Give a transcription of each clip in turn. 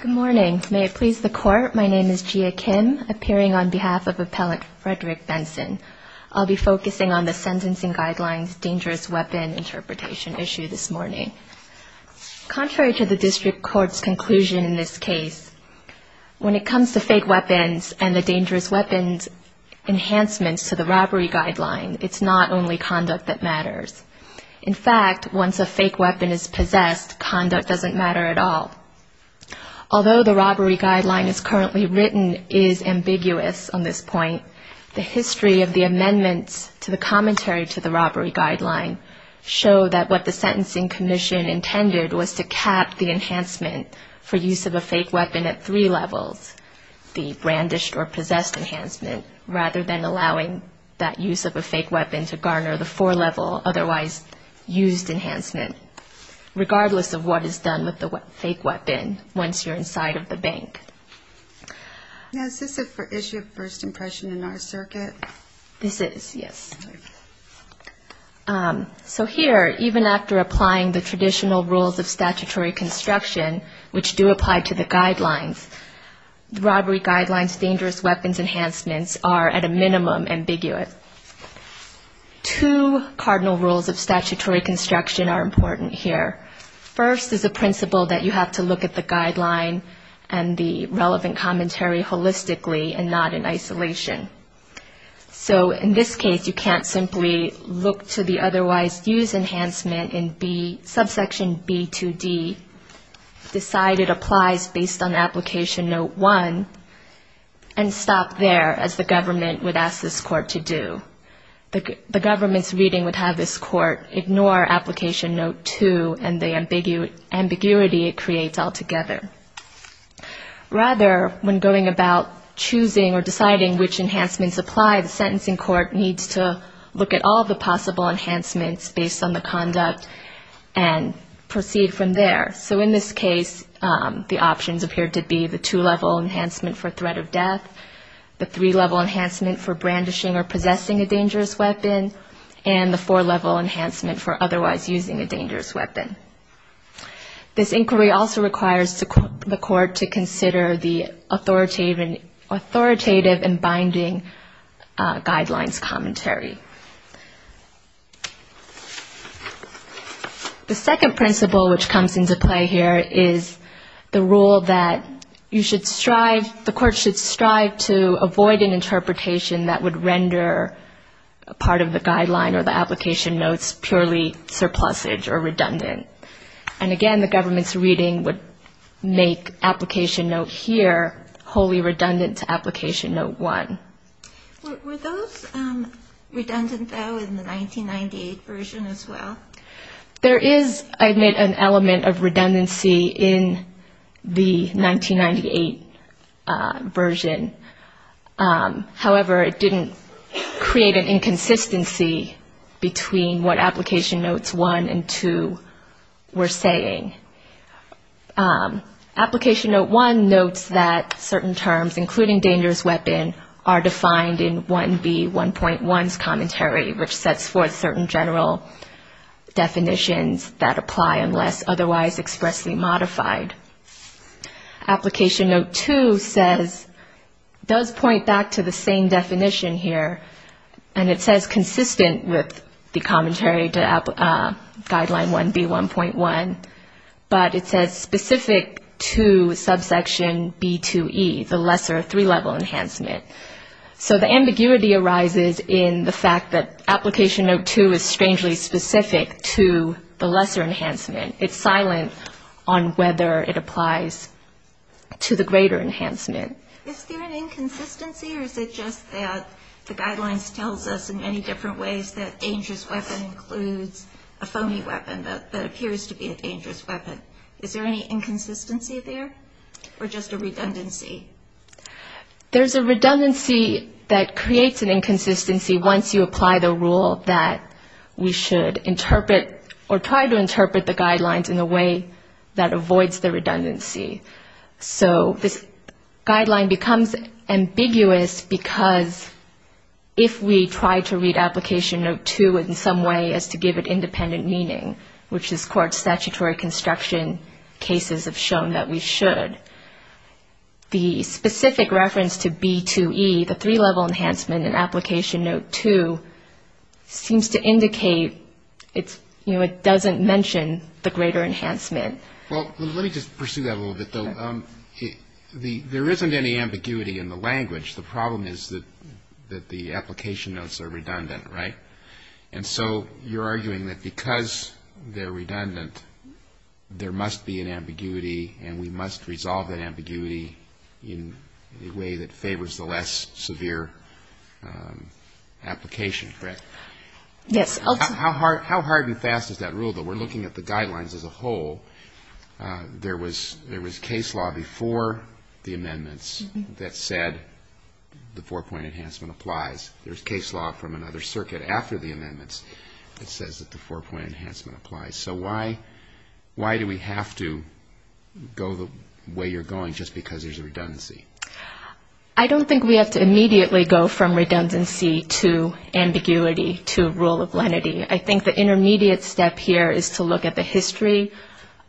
Good morning. May it please the court, my name is Jia Kim, appearing on behalf of Appellant Frederick Bendtzen. I'll be focusing on the sentencing guidelines dangerous weapon interpretation issue this morning. Contrary to the district court's conclusion in this case, when it comes to fake weapons and the dangerous weapons enhancements to the robbery guideline, it's not only conduct that matters. In fact, once a fake weapon is possessed, conduct doesn't matter at all. Although the robbery guideline is currently written is ambiguous on this point, the history of the amendments to the commentary to the robbery guideline show that what the Sentencing Commission intended was to cap the enhancement for use of a fake weapon at three levels, the brandished or possessed enhancement, rather than allowing that use of a fake weapon to garner the four-level otherwise used enhancement, regardless of what is done with the fake weapon once you're inside of the bank. Now, is this an issue of first impression in our circuit? This is, yes. So here, even after applying the traditional rules of statutory construction, which do apply to the guidelines, the robbery guidelines dangerous weapons enhancements are, at a minimum, ambiguous. Two cardinal rules of statutory construction are important here. First is the principle that you have to look at the guideline and the relevant commentary holistically and not in isolation. So in this case, you can't simply look to the otherwise used enhancement in subsection B2D, decide it applies based on application note one, and stop there as the government would ask this court to do. The government's reading would have this court ignore application note two and the ambiguity it creates altogether. Rather, when going about choosing or deciding which enhancements apply, the sentencing court needs to look at all the possible enhancements based on the conduct and proceed from there. So in this case, the options appear to be the two-level enhancement for threat of death, the three-level enhancement for brandishing or possessing a dangerous weapon, and the four-level enhancement for otherwise using a dangerous weapon. This inquiry also requires the court to consider the authoritative and binding guidelines commentary. The second principle which comes into play here is the rule that you should strive, the court should strive to avoid an interpretation that would render a part of the guideline or the application notes purely surplusage or redundant. And again, the government's reading would make application note here wholly redundant to application note one. Were those redundant though in the 1998 version as well? There is, I admit, an element of redundancy in the 1998 version. However, it didn't create an inconsistency between what application notes one and two were saying. Application note one notes that certain terms, including dangerous weapon, are defined in 1B1.1's commentary, which sets forth certain general definitions that apply unless otherwise expressly modified. Application note two says, does point back to the same definition here, and it says consistent with the commentary to guideline 1B1.1, but it says specific to subsection B2E, the lesser three-level enhancement. So the ambiguity arises in the fact that application note two is strangely specific to the lesser enhancement. It's silent on whether it applies to the greater enhancement. Is there an inconsistency or is it just that the guidelines tells us in many different ways that dangerous weapon includes a phony weapon that appears to be a dangerous weapon? Is there any inconsistency there or just a redundancy? There's a redundancy that creates an inconsistency once you apply the rule that we should interpret or try to interpret the guidelines in a way that the guideline becomes ambiguous because if we try to read application note two in some way as to give it independent meaning, which this Court's statutory construction cases have shown that we should, the specific reference to B2E, the three-level enhancement in application note two, seems to indicate it doesn't mention the greater enhancement. Well, let me just pursue that a little bit, though. There isn't any ambiguity in the language. The problem is that the application notes are redundant, right? And so you're arguing that because they're redundant, there must be an ambiguity and we must resolve that ambiguity in a way that favors the less severe application, correct? How hard and fast is that rule, though? We're looking at the guidelines as a whole. There was case law before the amendments that said the four-point enhancement applies. There's case law from another circuit after the amendments that says that the four-point enhancement applies. So why do we have to go the way you're going just because there's a redundancy? I don't think we have to immediately go from redundancy to ambiguity to rule of lenity. I think the intermediate step here is to look at the history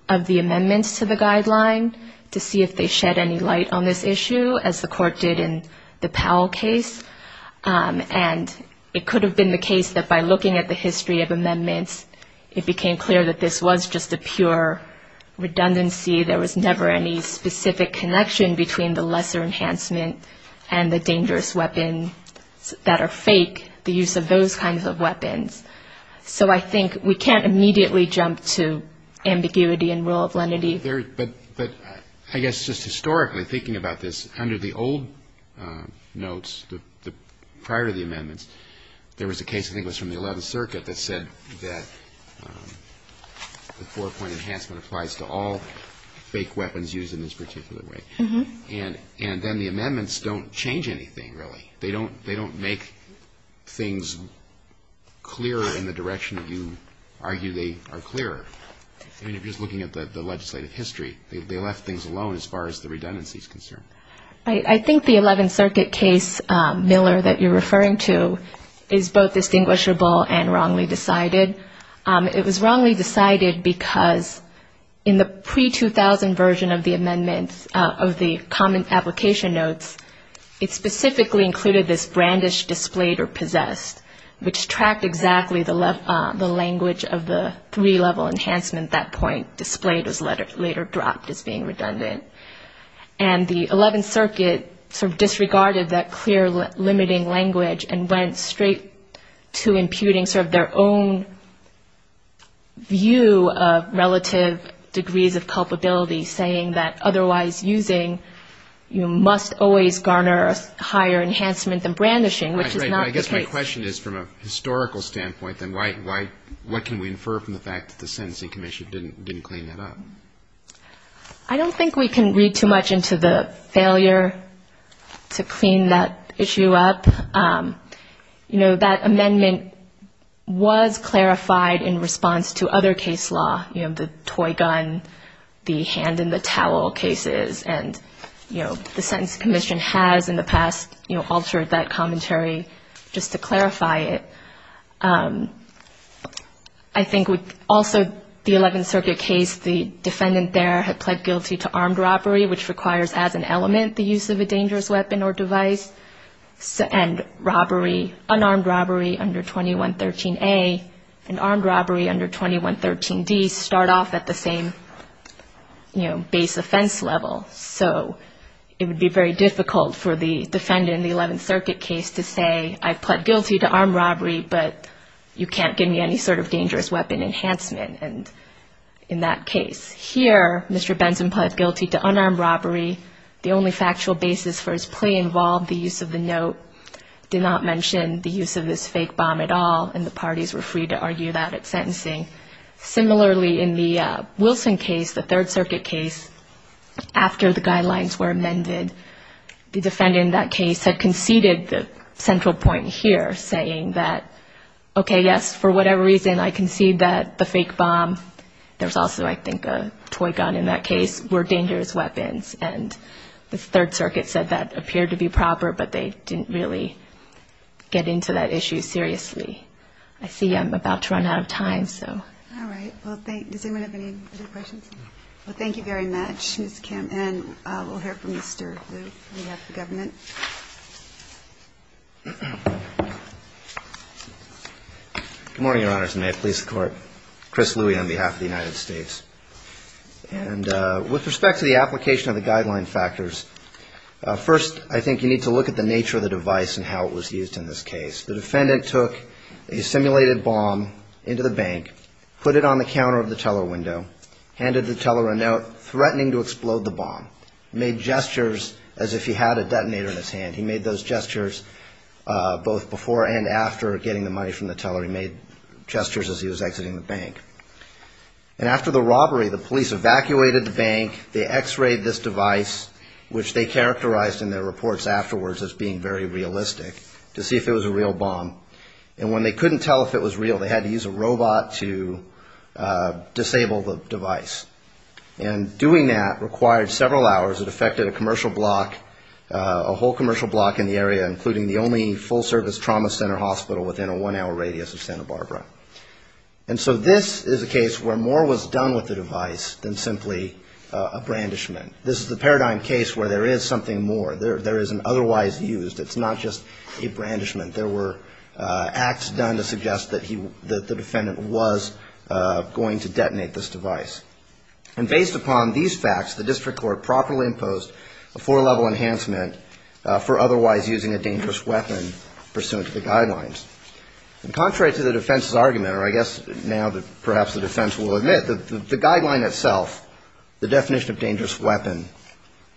of the amendments to the guideline to see if they shed any light on this issue, as the Court did in the Powell case. And it could have been the case that by looking at the history of amendments, it became clear that this was just a pure redundancy. There was never any specific connection between the lesser enhancement and the dangerous weapons that are fake, the use of those kinds of weapons. So I think we can't immediately jump to ambiguity and rule of lenity. But I guess just historically, thinking about this, under the old notes prior to the amendments, there was a case I think was from the 11th Circuit that said that the four-point enhancement applies to all fake weapons used in this particular way. And then the amendments don't change anything, really. They don't make things clearer in the direction that you argue they are clearer. I mean, just looking at the legislative history, they left things alone as far as the redundancy is concerned. I think the 11th Circuit case, Miller, that you're referring to, is both distinguishable and wrongly decided. It was wrongly decided because in the pre-2000 version of the amendments, of the common application notes, it specifically included this brandish displayed or possessed, which tracked exactly the language of the three-level enhancement at that point, displayed as later dropped as being redundant. And the 11th Circuit sort of disregarded that clear limiting language and went straight to imputing sort of their own view of relative degrees of culpability, saying that otherwise using, you must always garner a higher enhancement than brandishing, which is not the case. And my question is, from a historical standpoint, then why, what can we infer from the fact that the Sentencing Commission didn't clean that up? I don't think we can read too much into the failure to clean that issue up. You know, that amendment was clarified in response to other case law, you know, the toy gun, the hand in the towel cases. And, you know, the Sentencing Commission has in the past, you know, altered that commentary just to clarify it. I think also the 11th Circuit case, the defendant there had pled guilty to armed robbery, which requires as an element the use of a dangerous weapon or device, and robbery, unarmed robbery under 2113A and armed robbery under 2113D start off at the same, you know, base offense level. So it would be very difficult for the defendant in the 11th Circuit case to say, I pled guilty to armed robbery, but you can't give me any sort of dangerous weapon enhancement in that case. Here, Mr. Benson pled guilty to unarmed robbery. The only factual basis for his plea involved the use of the note, did not mention the use of this fake bomb at all, and the parties were free to argue that at sentencing. Similarly, in the Wilson case, the 3rd Circuit case, after the guidelines were amended, the defendant in that case had conceded the central point here, saying that, okay, yes, for whatever reason, I concede that the fake bomb, there's also I think a toy gun in that case, were dangerous weapons. And the 3rd Circuit said that appeared to be proper, but they didn't really get into that issue seriously. I see I'm about to run out of time, so. All right. Does anyone have any other questions? Well, thank you very much, Ms. Kim, and we'll hear from Mr. Liu on behalf of the government. Good morning, Your Honors, and may it please the Court. Chris Liu on behalf of the United States. And with respect to the application of the guideline factors, first, I think you need to look at the guideline factors. First of all, I think you need to look at the fact that the defendant had a simulated bomb into the bank, put it on the counter of the teller window, handed the teller a note threatening to explode the bomb, made gestures as if he had a detonator in his hand. He made those gestures both before and after getting the money from the teller. He made gestures as he was exiting the bank. And after the robbery, the police evacuated the bank. They X-rayed this device, which they characterized in their reports afterwards as being very realistic, to see if it was a real bomb. And when they couldn't tell if it was real, they had to use a robot to disable the device. And doing that required several hours. It affected a commercial block, a whole commercial block in the area, including the only full-service trauma center hospital within a one-hour radius of Santa Barbara. And so this is a case where more was done with the device than simply a brandishment. This is the paradigm case where there is something more. There is an otherwise used. It's not just a brandishment. There were acts done to suggest that the defendant was going to detonate this device. And based upon these facts, the district court properly imposed a four-level enhancement for otherwise using a four-level enhancement. So the defense's argument, or I guess now perhaps the defense will admit, the guideline itself, the definition of dangerous weapon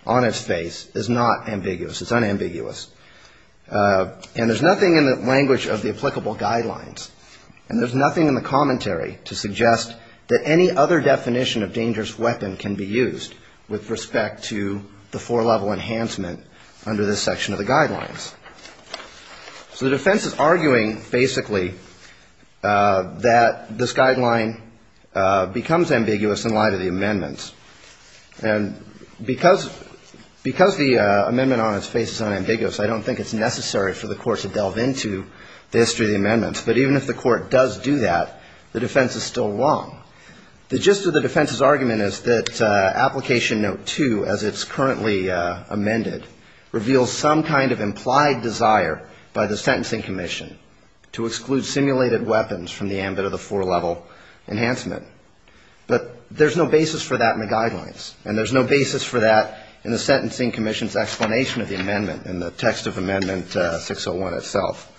on its face is not ambiguous. It's unambiguous. And there's nothing in the language of the applicable guidelines. And there's nothing in the commentary to suggest that any other definition of dangerous weapon can be used with respect to the four-level enhancement under this section of the guidelines. So the defense is arguing, basically, that this guideline becomes ambiguous in light of the amendments. And because the amendment on its face is unambiguous, I don't think it's necessary for the court to delve into the history of the amendments. But even if the court does do that, the defense is still wrong. The gist of the defense's argument is that there is an implied desire by the sentencing commission to exclude simulated weapons from the ambit of the four-level enhancement. But there's no basis for that in the guidelines. And there's no basis for that in the sentencing commission's explanation of the amendment in the text of Amendment 601 itself.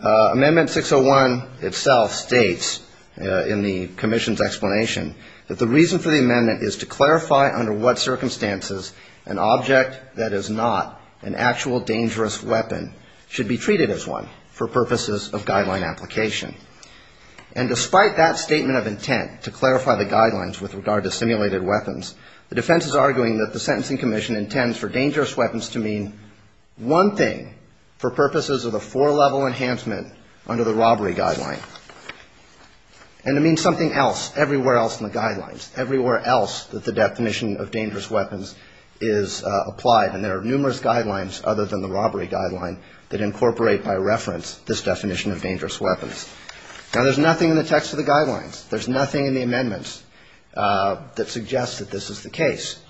Amendment 601 itself states in the commission's explanation that the reason for the amendment is to clarify under what circumstances an object that is not dangerous should be treated as one for purposes of guideline application. And despite that statement of intent to clarify the guidelines with regard to simulated weapons, the defense is arguing that the sentencing commission intends for dangerous weapons to mean one thing for purposes of the four-level enhancement under the robbery guideline, and to mean something else everywhere else in the guidelines, everywhere else that the definition of dangerous weapons is applied. And there are no other guidelines other than the robbery guideline that incorporate by reference this definition of dangerous weapons. Now, there's nothing in the text of the guidelines. There's nothing in the amendments that suggests that this is the case.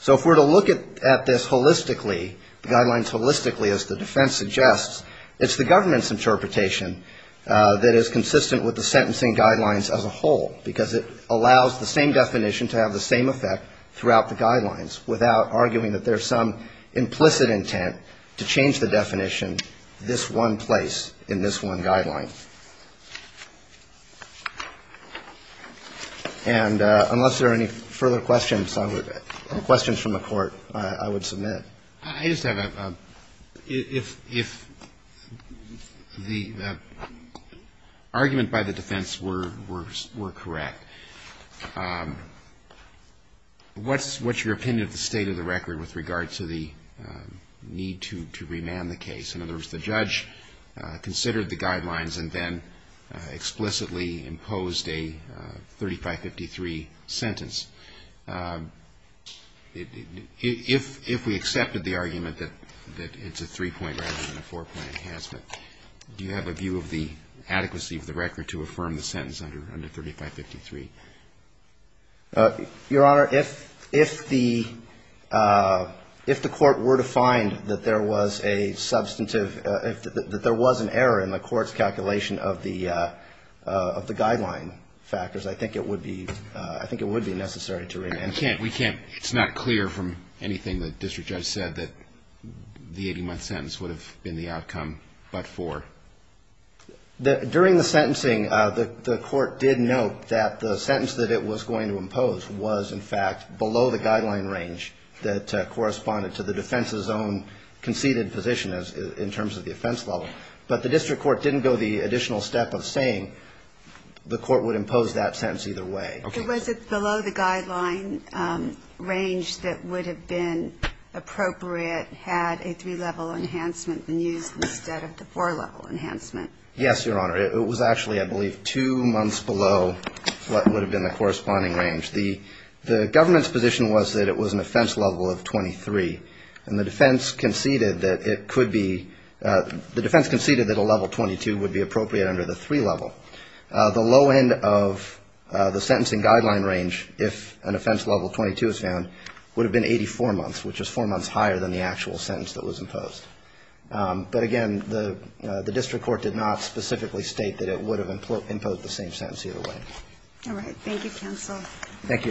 So if we're to look at this holistically, the guidelines holistically, as the defense suggests, it's the government's interpretation that is consistent with the sentencing guidelines as a whole, because it allows the same definition to have the same effect throughout the guidelines, without arguing that there's some implicit intent to change the definition this one place in this one guideline. And unless there are any further questions, questions from the Court, I would submit. I just have a question. If the argument by the defense were correct, if the argument by the defense were correct, what's your opinion of the state of the record with regard to the need to remand the case? In other words, the judge considered the guidelines and then explicitly imposed a 3553 sentence. If we accepted the argument that it's a three-point rather than a four-point enhancement, do you have a view of the adequacy of the record to affirm the sentence under 3553? Your Honor, if the Court were to find that there was a substantive, that there was an error in the Court's calculation of the guideline factors, I think it would be necessary to remand. We can't. It's not clear from anything the district judge said that the 80-month sentence would have been the outcome but for? During the sentencing, the Court did note that the sentence that it was going to impose was in fact below the guideline range that corresponded to the defense's own conceded position in terms of the offense level. But the district court didn't go the additional step of saying the Court would impose that sentence either way. Okay. Was it below the guideline range that would have been appropriate had a three-level enhancement been used instead of the four-level enhancement? Yes, Your Honor. It was actually, I believe, two months below what would have been the corresponding range. The government's position was that it was an offense level of 23, and the defense conceded that it could be, the defense conceded that a level 22 would be within the guideline range if an offense level 22 was found, would have been 84 months, which is four months higher than the actual sentence that was imposed. But again, the district court did not specifically state that it would have imposed the same sentence either way. All right. Thank you, counsel. Thank you, Your Honor.